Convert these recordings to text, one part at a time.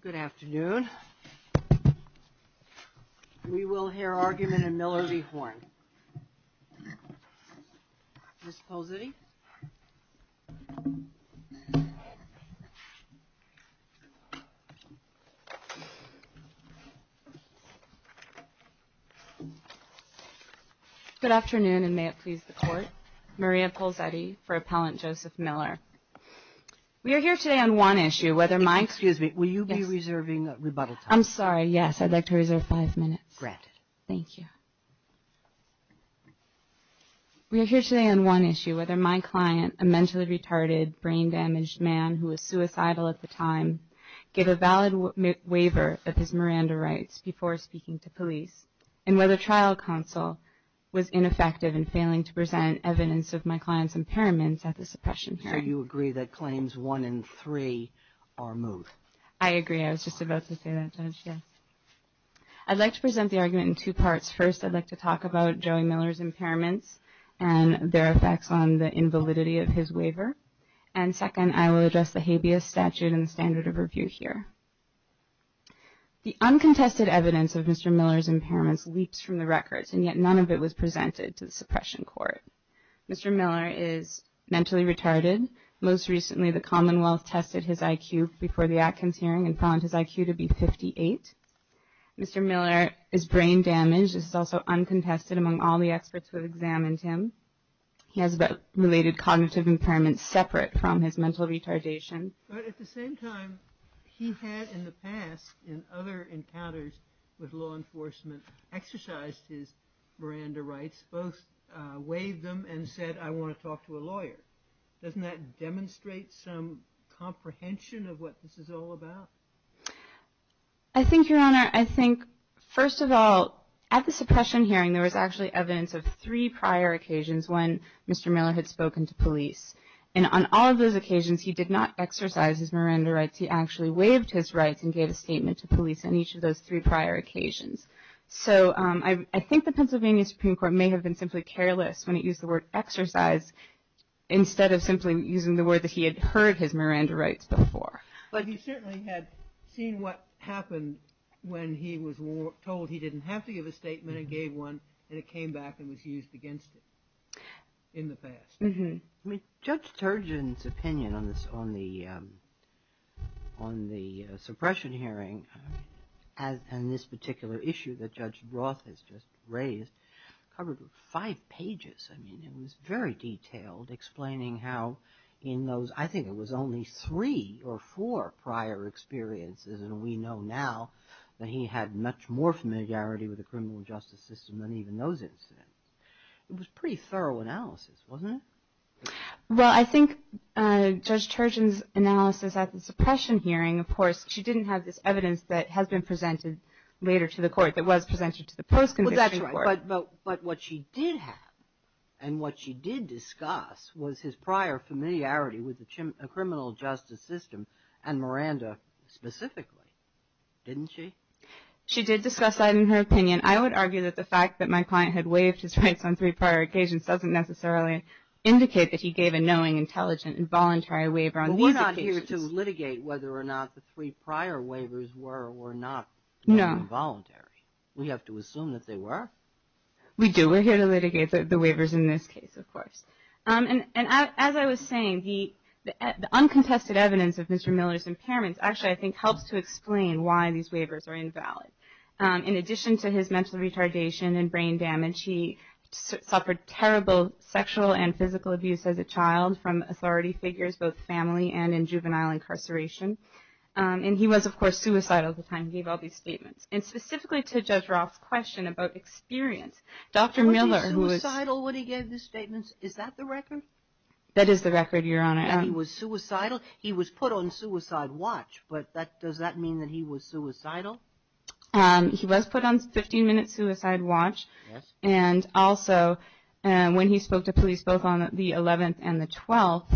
Good afternoon. We will hear argument in Miller v. Horn. Ms. Polzetti. Good afternoon, and may it please the Court. Maria Polzetti for Appellant Joseph Miller. We are here today on one issue, whether my client, a mentally retarded, brain damaged man who was suicidal at the time, gave a valid waiver of his Miranda rights before speaking to police, and whether trial counsel was ineffective in failing to present evidence of my client's impairments at the suppression hearing. So you agree that claims one and three are moot? I agree. I was just about to say that, Judge, yes. I'd like to present the argument in two parts. First, I'd like to talk about Joey Miller's impairments and their effects on the invalidity of his waiver. And second, I will address the habeas statute and standard of review here. The uncontested evidence of Mr. Miller's impairments leaps from the records, and yet none of it was presented to the suppression court. Mr. Miller is mentally retarded. Most recently, the Commonwealth tested his IQ before the Atkins hearing and found his IQ to be 58. Mr. Miller is brain damaged. This is also uncontested among all the experts who examined him. He has related cognitive impairments separate from his mental retardation. But at the same time, he had in the past, in other encounters with law enforcement, exercised his Miranda rights, both waived them and said, I want to talk to a lawyer. Doesn't that demonstrate some comprehension of what this is all about? I think, Your Honor, I think, first of all, at the suppression hearing, there was actually evidence of three prior occasions when Mr. Miller had spoken to police. And on all of those occasions, he did not exercise his Miranda rights. He actually waived his rights and gave a statement to police on each of those three prior occasions. So I think the Pennsylvania Supreme Court may have been simply careless when it used the word exercise instead of simply using the word that he had heard his Miranda rights before. But he certainly had seen what happened when he was told he didn't have to give a statement and gave one, and it came back and was used against him in the past. Judge Turgeon's opinion on the suppression hearing and this particular issue that Judge Roth has just raised covered five pages. I mean, it was very detailed, explaining how in those, I think it was only three or four prior experiences, and we know now that he had much more familiarity with the criminal justice system than even those incidents. It was pretty thorough analysis, wasn't it? Well, I think Judge Turgeon's analysis at the suppression hearing, of course, she didn't have this evidence that has been presented later to the court that was presented to the post-conviction court. Well, that's right. But what she did have and what she did discuss was his prior familiarity with the criminal justice system and Miranda specifically, didn't she? She did discuss that in her opinion. I would argue that the fact that my client had waived his rights on three prior occasions doesn't necessarily indicate that he gave a knowing, intelligent, and voluntary waiver on these occasions. Well, we're not here to litigate whether or not the three prior waivers were or were not involuntary. We have to assume that they were. We do. We're here to litigate the waivers in this case, of course. And as I was saying, the uncontested evidence of Mr. Miller's impairments actually, I think, helps to explain why these waivers are invalid. In addition to his mental retardation and brain damage, he suffered terrible sexual and physical abuse as a child from authority figures, both family and in juvenile incarceration. And he was, of course, suicidal at the time. He gave all these statements. And specifically to Judge Roth's question about experience, Dr. Miller, who was... Was he suicidal when he gave these statements? Is that the record? That is the record, Your Honor. And he was suicidal? He was put on suicide watch. But does that mean that he was suicidal? He was put on 15-minute suicide watch. And also, when he spoke to police, both on the 11th and the 12th,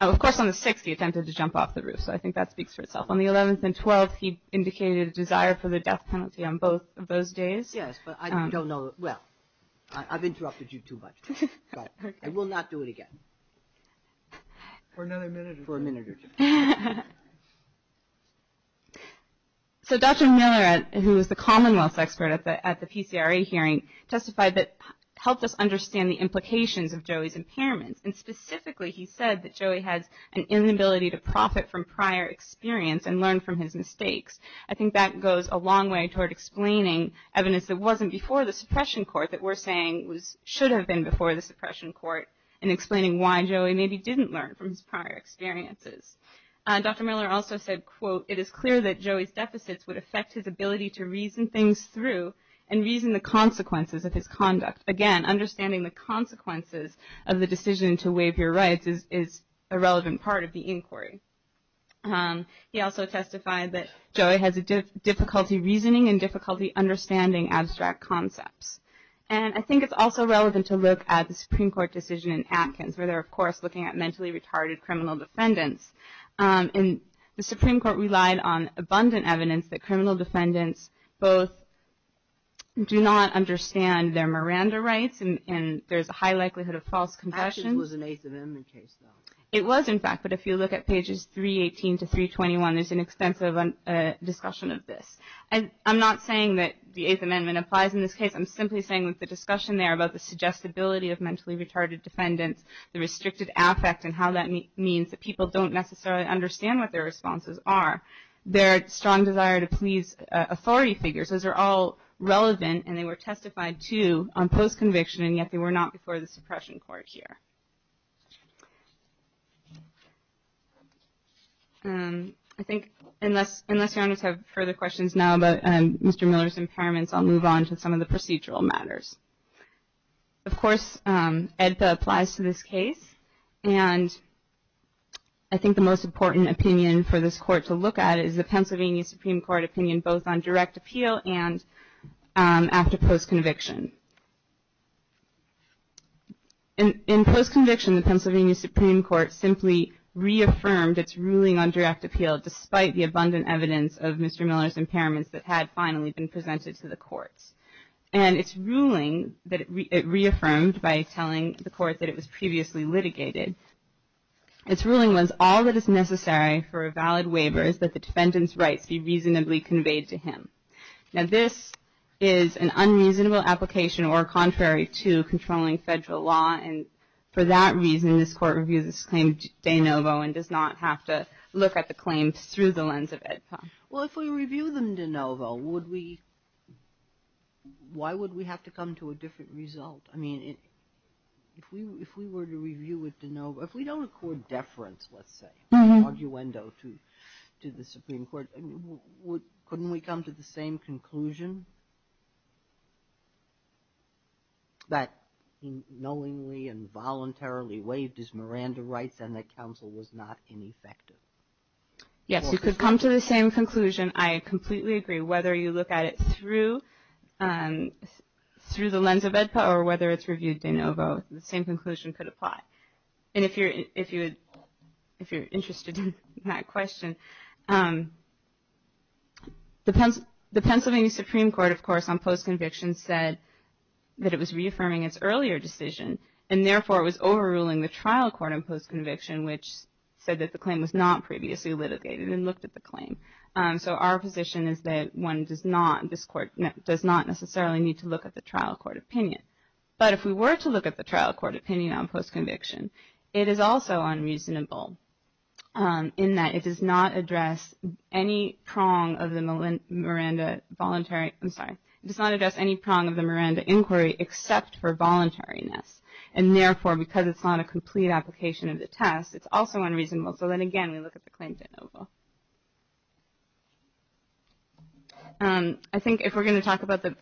of course, on the 6th, he attempted to jump off the roof. So I think that speaks for itself. On the 11th and 12th, he indicated a desire for the death penalty on both of those days. Yes, but I don't know. Well, I've interrupted you too much. I will not do it again. For another minute or two. For a minute or two. So Dr. Miller, who was the Commonwealth's expert at the PCRA hearing, testified that helped us understand the implications of Joey's impairments. And specifically, he said that Joey has an inability to profit from prior experience and learn from his mistakes. I think that goes a long way toward explaining evidence that wasn't before the suppression court that we're saying should have been before the suppression court and explaining why Joey maybe didn't learn from his prior experiences. Dr. Miller also said, quote, it is clear that Joey's deficits would affect his ability to reason things through and reason the consequences of his conduct. Again, understanding the consequences of the decision to waive your rights is a relevant part of the inquiry. He also testified that Joey has difficulty reasoning and difficulty understanding abstract concepts. And I think it's also relevant to look at the Supreme Court's looking at mentally retarded criminal defendants. And the Supreme Court relied on abundant evidence that criminal defendants both do not understand their Miranda rights and there's a high likelihood of false confessions. That was an Eighth Amendment case, though. It was, in fact. But if you look at pages 318 to 321, there's an extensive discussion of this. And I'm not saying that the Eighth Amendment applies in this case. I'm simply saying with the discussion there about the suggestibility of mentally retarded defendants, the restricted affect and how that means that people don't necessarily understand what their responses are, their strong desire to please authority figures, those are all relevant and they were testified to on post-conviction and yet they were not before the suppression court here. I think, unless you want to have further questions now about Mr. Miller's impairments, I'll move on to some of the procedural matters. Of course, AEDPA applies to this case. And I think the most important opinion for this court to look at is the Pennsylvania Supreme Court opinion both on direct appeal and after post-conviction. In post-conviction, the Pennsylvania Supreme Court simply reaffirmed its ruling on direct appeal despite the abundant evidence of Mr. Miller's impairments that had finally been presented to the courts. And its ruling that it reaffirmed by telling the court that it was previously litigated, its ruling was all that is necessary for a valid waiver is that the defendant's rights be reasonably conveyed to him. Now, this is an unreasonable application or contrary to controlling federal law. And for that reason, this court reviews its claim de novo and does not have to look at the claim through the lens of AEDPA. Well, if we review them de novo, why would we have to come to a different result? I mean, if we were to review it de novo, if we don't accord deference, let's say, an argumento to the Supreme Court, couldn't we come to the same conclusion that he knowingly and voluntarily waived his Miranda rights and that counsel was not ineffective? Yes, you could come to the same conclusion. I completely agree. Whether you look at it through the lens of AEDPA or whether it's reviewed de novo, the same conclusion could apply. And if you're interested in that question, the Pennsylvania Supreme Court, of course, on post-conviction said that it was reaffirming its earlier decision and therefore it was not previously litigated and looked at the claim. So our position is that one does not necessarily need to look at the trial court opinion. But if we were to look at the trial court opinion on post-conviction, it is also unreasonable in that it does not address any prong of the Miranda inquiry except for voluntariness. And therefore, because it's not a complete application of the test, it's also unreasonable. So then again, we look at the claim de novo. I think if we're going to talk about the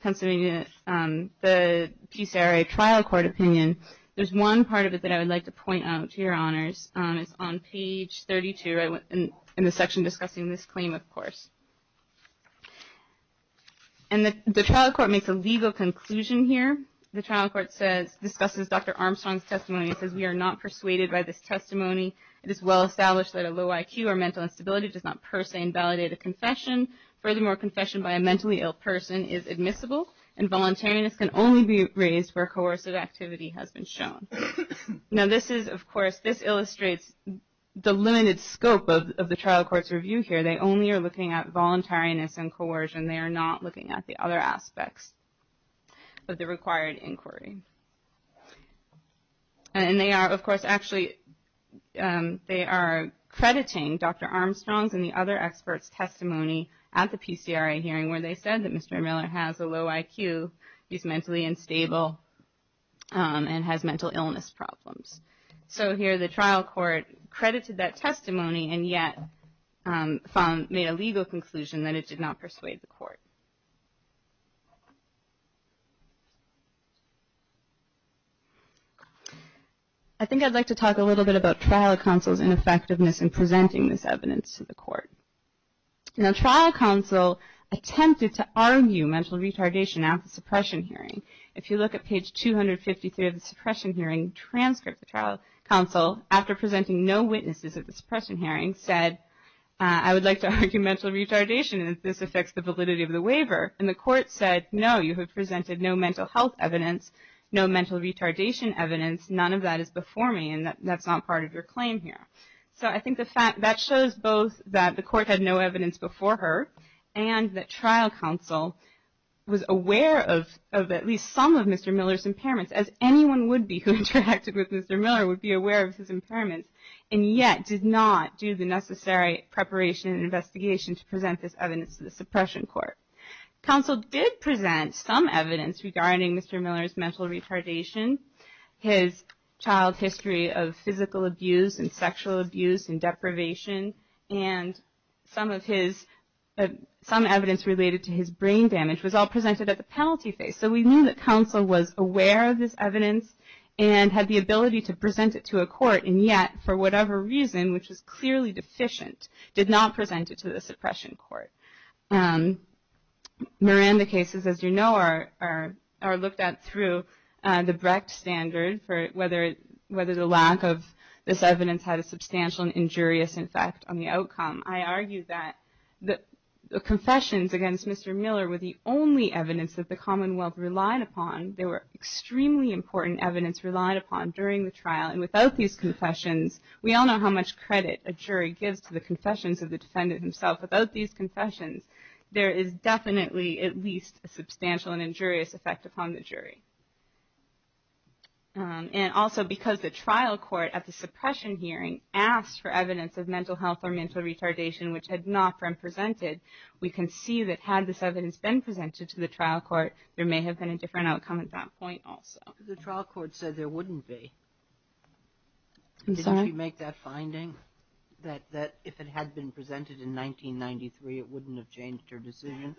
Pennsylvania, the PCRA trial court opinion, there's one part of it that I would like to point out to your honors. It's on page 32 in the section discussing this claim, of course. And the trial court makes a legal conclusion here. The trial court discusses Dr. Armstrong's testimony and says, we are not persuaded by this testimony. It is well established that a low IQ or mental instability does not per se invalidate a confession. Furthermore, confession by a mentally ill person is admissible and voluntariness can only be raised where coercive activity has been shown. Now this is, of course, this illustrates the limited scope of the trial court's review here. They only are looking at voluntariness and coercion. They are not looking at the other aspects of the required inquiry. And they are, of course, actually, they are crediting Dr. Armstrong's and the other experts' testimony at the PCRA hearing where they said that Mr. Miller has a low IQ, he's mentally unstable, and has mental illness problems. So here the trial court credited that testimony and yet made a legal conclusion that it did not persuade the court. I think I'd like to talk a little bit about trial counsel's ineffectiveness in presenting this evidence to the court. Now trial counsel attempted to argue mental retardation at the suppression hearing. If you look at page 253 of the suppression hearing, trial counsel, after presenting no witnesses at the suppression hearing, said, I would like to argue mental retardation and if this affects the validity of the waiver. And the court said, no, you have presented no mental health evidence, no mental retardation evidence, none of that is before me, and that's not part of your claim here. So I think that shows both that the court had no evidence before her and that trial counsel was aware of at least some of Mr. Miller's impairments, as anyone would be who interacted with Mr. Miller would be aware of his impairments, and yet did not do the necessary preparation and investigation to present this evidence to the suppression court. Counsel did present some evidence regarding Mr. Miller's mental retardation, his child history of physical abuse and sexual abuse and deprivation, and some evidence related to his brain damage was all presented at the penalty phase. So we knew that counsel was aware of this evidence and had the ability to present it to a court, and yet for whatever reason, which is clearly deficient, did not present it to the suppression court. Miranda cases, as you know, are looked at through the Brecht standard for whether the lack of this evidence had a substantial and injurious effect on the outcome. I argue that the confessions against Mr. Miller were the only evidence that the Commonwealth relied upon. They were extremely important evidence relied upon during the trial, and without these confessions, we all know how much credit a jury gives to the confessions of the defendant himself. Without these confessions, there is definitely at least a substantial and injurious effect upon the jury. And also because the trial court at the suppression hearing asked for evidence of mental health or mental retardation which had not been presented, we can see that had this evidence been presented to the trial court, there may have been a different outcome at that point also. The trial court said there wouldn't be. I'm sorry? Did she make that finding, that if it had been presented in 1993, it wouldn't have changed her decision?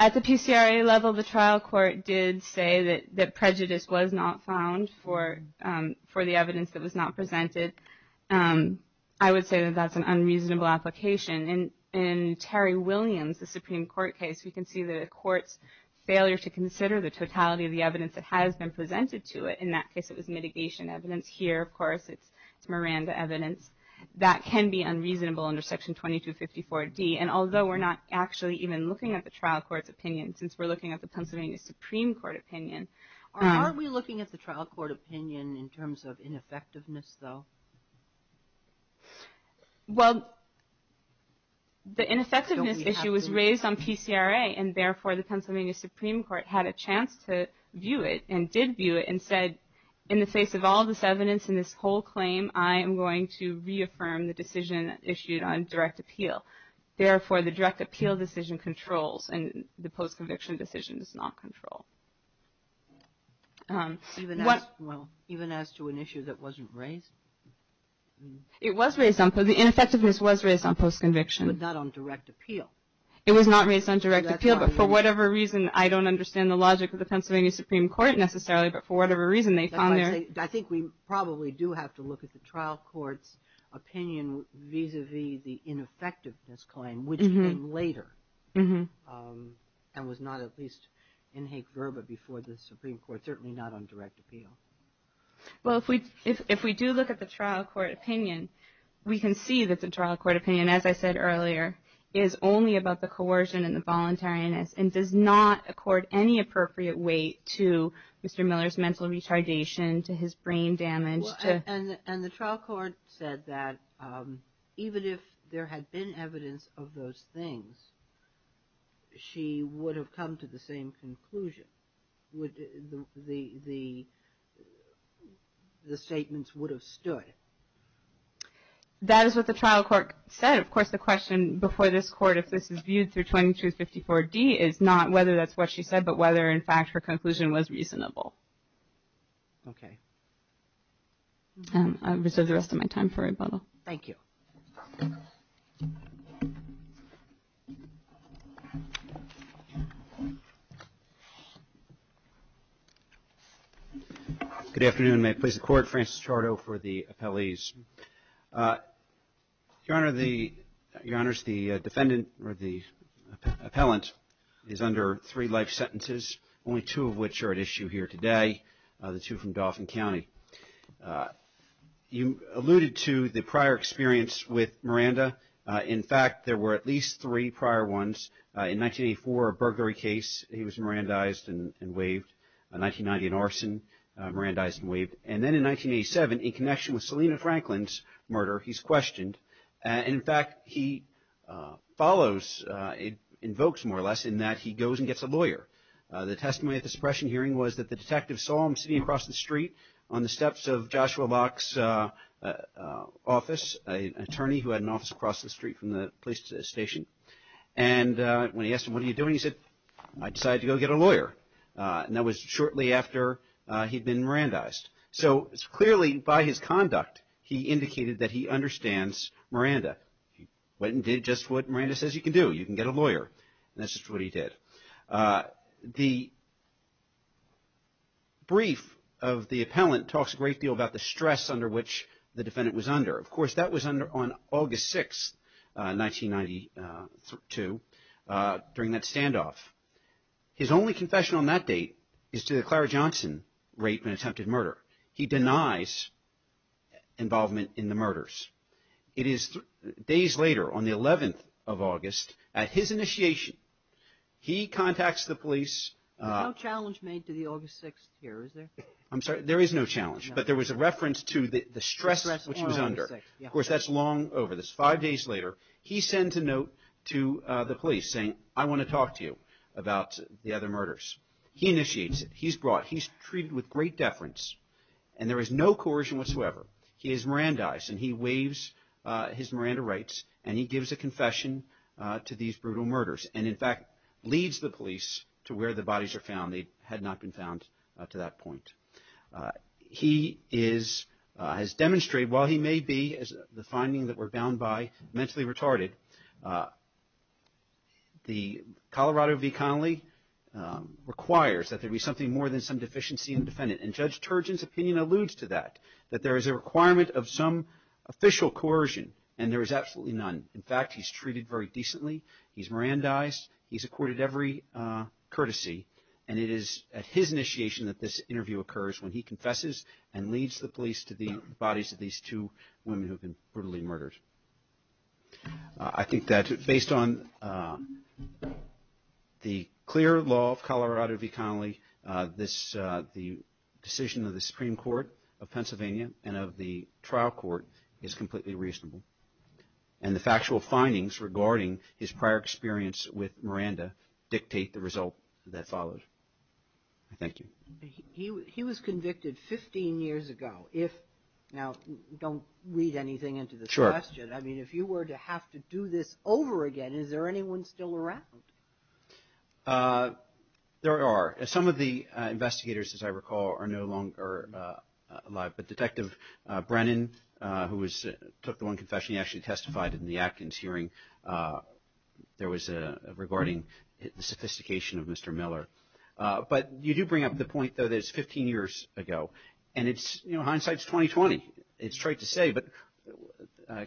At the PCRA level, the trial court did say that prejudice was not found for the evidence that was not presented. I would say that that's an unreasonable application. In Terry Williams, the Supreme Court case, we can see the court's failure to consider the totality of the evidence that has been presented to it. In that case, it was mitigation evidence. Here, of course, it's Miranda evidence. That can be unreasonable under Section 2254D. And although we're not actually even looking at the trial court's opinion, since we're looking at the Pennsylvania Supreme Court opinion. Are we looking at the trial court opinion in terms of ineffectiveness, though? Well, the ineffectiveness issue was raised on PCRA. And therefore, the Pennsylvania Supreme Court had a chance to view it and did view it and said in the face of all this evidence and this whole claim, I am going to reaffirm the decision issued on direct appeal. Therefore, the direct appeal decision controls and the post-conviction decision does not control. Even as to an issue that wasn't raised? It was raised. The ineffectiveness was raised on post-conviction. But not on direct appeal. It was not raised on direct appeal. But for whatever reason, I don't understand the logic of the Pennsylvania Supreme Court necessarily. But for whatever reason, they found there. I think we probably do have to look at the trial court's opinion vis-à-vis the ineffectiveness claim, which came later and was not at least in hake verba before the Supreme Court, certainly not on direct appeal. Well, if we do look at the trial court opinion, we can see that the trial court opinion, as I said earlier, is only about the coercion and the voluntariness and does not accord any appropriate weight to Mr. Miller's mental retardation, to his brain damage. And the trial court said that even if there had been evidence of those things, she would have come to the same conclusion. The statements would have stood. That is what the trial court said. And, of course, the question before this Court, if this is viewed through 2254D, is not whether that's what she said, but whether, in fact, her conclusion was reasonable. Okay. I reserve the rest of my time for rebuttal. Thank you. Good afternoon. May it please the Court. Francis Chardo for the appellees. Your Honor, the defendant or the appellant is under three life sentences, only two of which are at issue here today, the two from Dauphin County. You alluded to the prior experience with Miranda. In fact, there were at least three prior ones. In 1984, a burglary case, he was Mirandized and waived. In 1990, an arson, Mirandized and waived. And then in 1987, in connection with Selina Franklin's murder, he's questioned. In fact, he follows, invokes more or less, in that he goes and gets a lawyer. The testimony at the suppression hearing was that the detective saw him sitting across the street on the steps of Joshua Locke's office, an attorney who had an office across the street from the police station. And when he asked him, what are you doing, he said, I decided to go get a lawyer. And that was shortly after he'd been Mirandized. So clearly, by his conduct, he indicated that he understands Miranda. He went and did just what Miranda says you can do. You can get a lawyer. And that's just what he did. The brief of the appellant talks a great deal about the stress under which the defendant was under. Of course, that was on August 6, 1992, during that standoff. His only confession on that date is to the Clara Johnson rape and attempted murder. He denies involvement in the murders. It is days later, on the 11th of August, at his initiation, he contacts the police. No challenge made to the August 6th here, is there? I'm sorry, there is no challenge. But there was a reference to the stress which he was under. Of course, that's long over. Five days later, he sends a note to the police saying, I want to talk to you about the other murders. He initiates it. He's brought. He's treated with great deference. And there is no coercion whatsoever. He is Mirandized. And he waives his Miranda rights. And he gives a confession to these brutal murders. And, in fact, leads the police to where the bodies are found. They had not been found to that point. He has demonstrated, while he may be, as the finding that we're bound by, mentally retarded, the Colorado v. Connolly requires that there be something more than some deficiency in the defendant. And Judge Turgeon's opinion alludes to that. That there is a requirement of some official coercion. And there is absolutely none. In fact, he's treated very decently. He's Mirandized. He's accorded every courtesy. And it is at his initiation that this interview occurs when he confesses and leads the police to the bodies of these two women who have been brutally murdered. I think that, based on the clear law of Colorado v. Connolly, the decision of the Supreme Court of Pennsylvania and of the trial court is completely reasonable. And the factual findings regarding his prior experience with Miranda dictate the result that follows. Thank you. He was convicted 15 years ago. Now, don't read anything into this question. I mean, if you were to have to do this over again, is there anyone still around? There are. Some of the investigators, as I recall, are no longer alive. But Detective Brennan, who took the one confession, he actually testified in the Atkins hearing regarding the sophistication of Mr. Miller. But you do bring up the point, though, that it's 15 years ago. And hindsight's 20-20. It's trite to say, but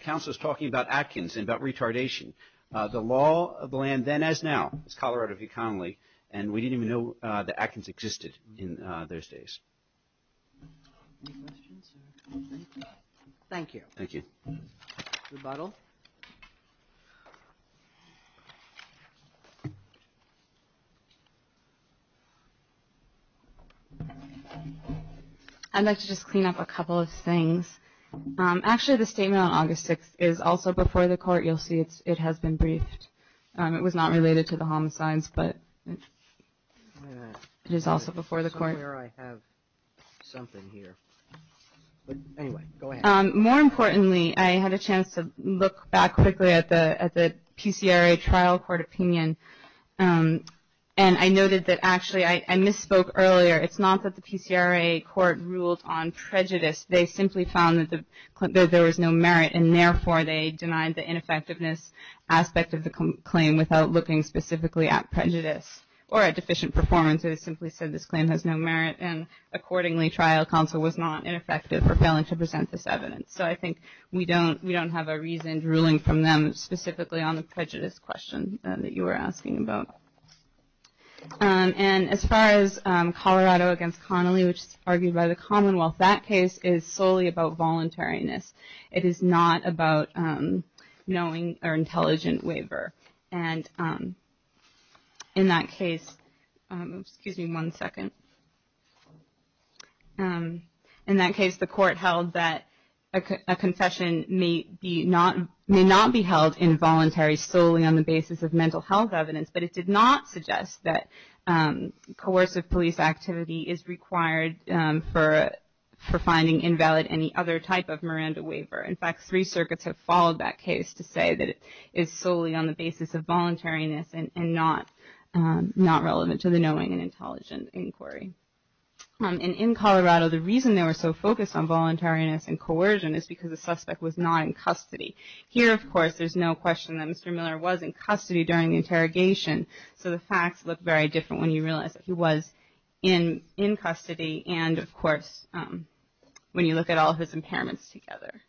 counsel is talking about Atkins and about retardation. The law of the land then as now is Colorado v. Connolly. And we didn't even know that Atkins existed in those days. Any questions? Thank you. Thank you. Rebuttal. I'd like to just clean up a couple of things. Actually, the statement on August 6th is also before the court. You'll see it has been briefed. It was not related to the homicides, but it is also before the court. I'm not sure I have something here. But anyway, go ahead. More importantly, I had a chance to look back quickly at the PCRA trial court opinion. And I noted that actually I misspoke earlier. It's not that the PCRA court ruled on prejudice. They simply found that there was no merit, and therefore they denied the ineffectiveness aspect of the claim without looking specifically at prejudice or at deficient performance. They simply said this claim has no merit. And accordingly, trial counsel was not ineffective for failing to present this evidence. So I think we don't have a reasoned ruling from them specifically on the prejudice question that you were asking about. And as far as Colorado v. Connolly, which is argued by the Commonwealth, that case is solely about voluntariness. It is not about knowing or intelligent waiver. And in that case the court held that a confession may not be held involuntary solely on the basis of mental health evidence, but it did not suggest that coercive police activity is required for finding invalid any other type of Miranda waiver. In fact, three circuits have followed that case to say that it is solely on the basis of voluntariness and not relevant to the knowing and intelligent inquiry. And in Colorado, the reason they were so focused on voluntariness and coercion is because the suspect was not in custody. Here, of course, there's no question that Mr. Miller was in custody during the interrogation. So the facts look very different when you realize that he was in custody and, of course, when you look at all of his impairments together.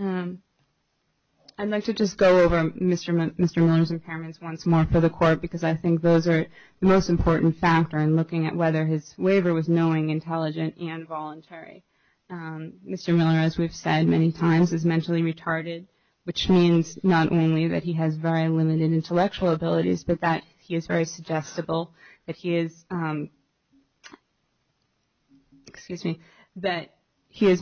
I'd like to just go over Mr. Miller's impairments once more for the court because I think those are the most important factor in looking at whether his waiver was knowing, intelligent, and voluntary. Mr. Miller, as we've said many times, is mentally retarded, which means not only that he has very limited intellectual abilities, but that he is very suggestible, that he is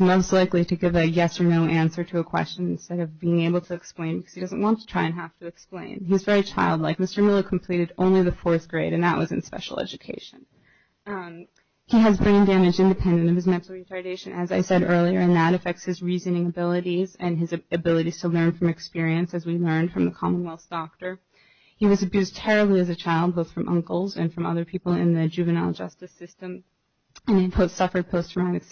most likely to give a yes or no answer to a question instead of being able to explain because he doesn't want to try and have to explain. He's very childlike. Mr. Miller completed only the fourth grade, and that was in special education. He has brain damage independent of his mental retardation, as I said earlier, and that affects his reasoning abilities and his ability to learn from experience, as we learned from the Commonwealth's doctor. He was abused terribly as a child, both from uncles and from other people in the juvenile justice system, and he suffered post-traumatic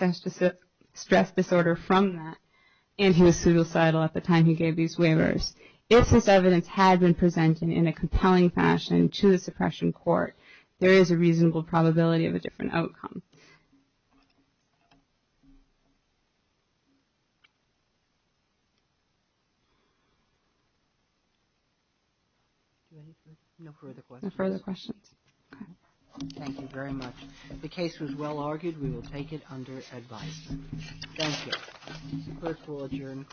stress disorder from that, and he was suicidal at the time he gave these waivers. If this evidence had been presented in a compelling fashion to the suppression court, there is a reasonable probability of a different outcome. No further questions? No further questions. Okay. Thank you very much. The case was well-argued. We will take it under advice. Thank you. This court will adjourn the court.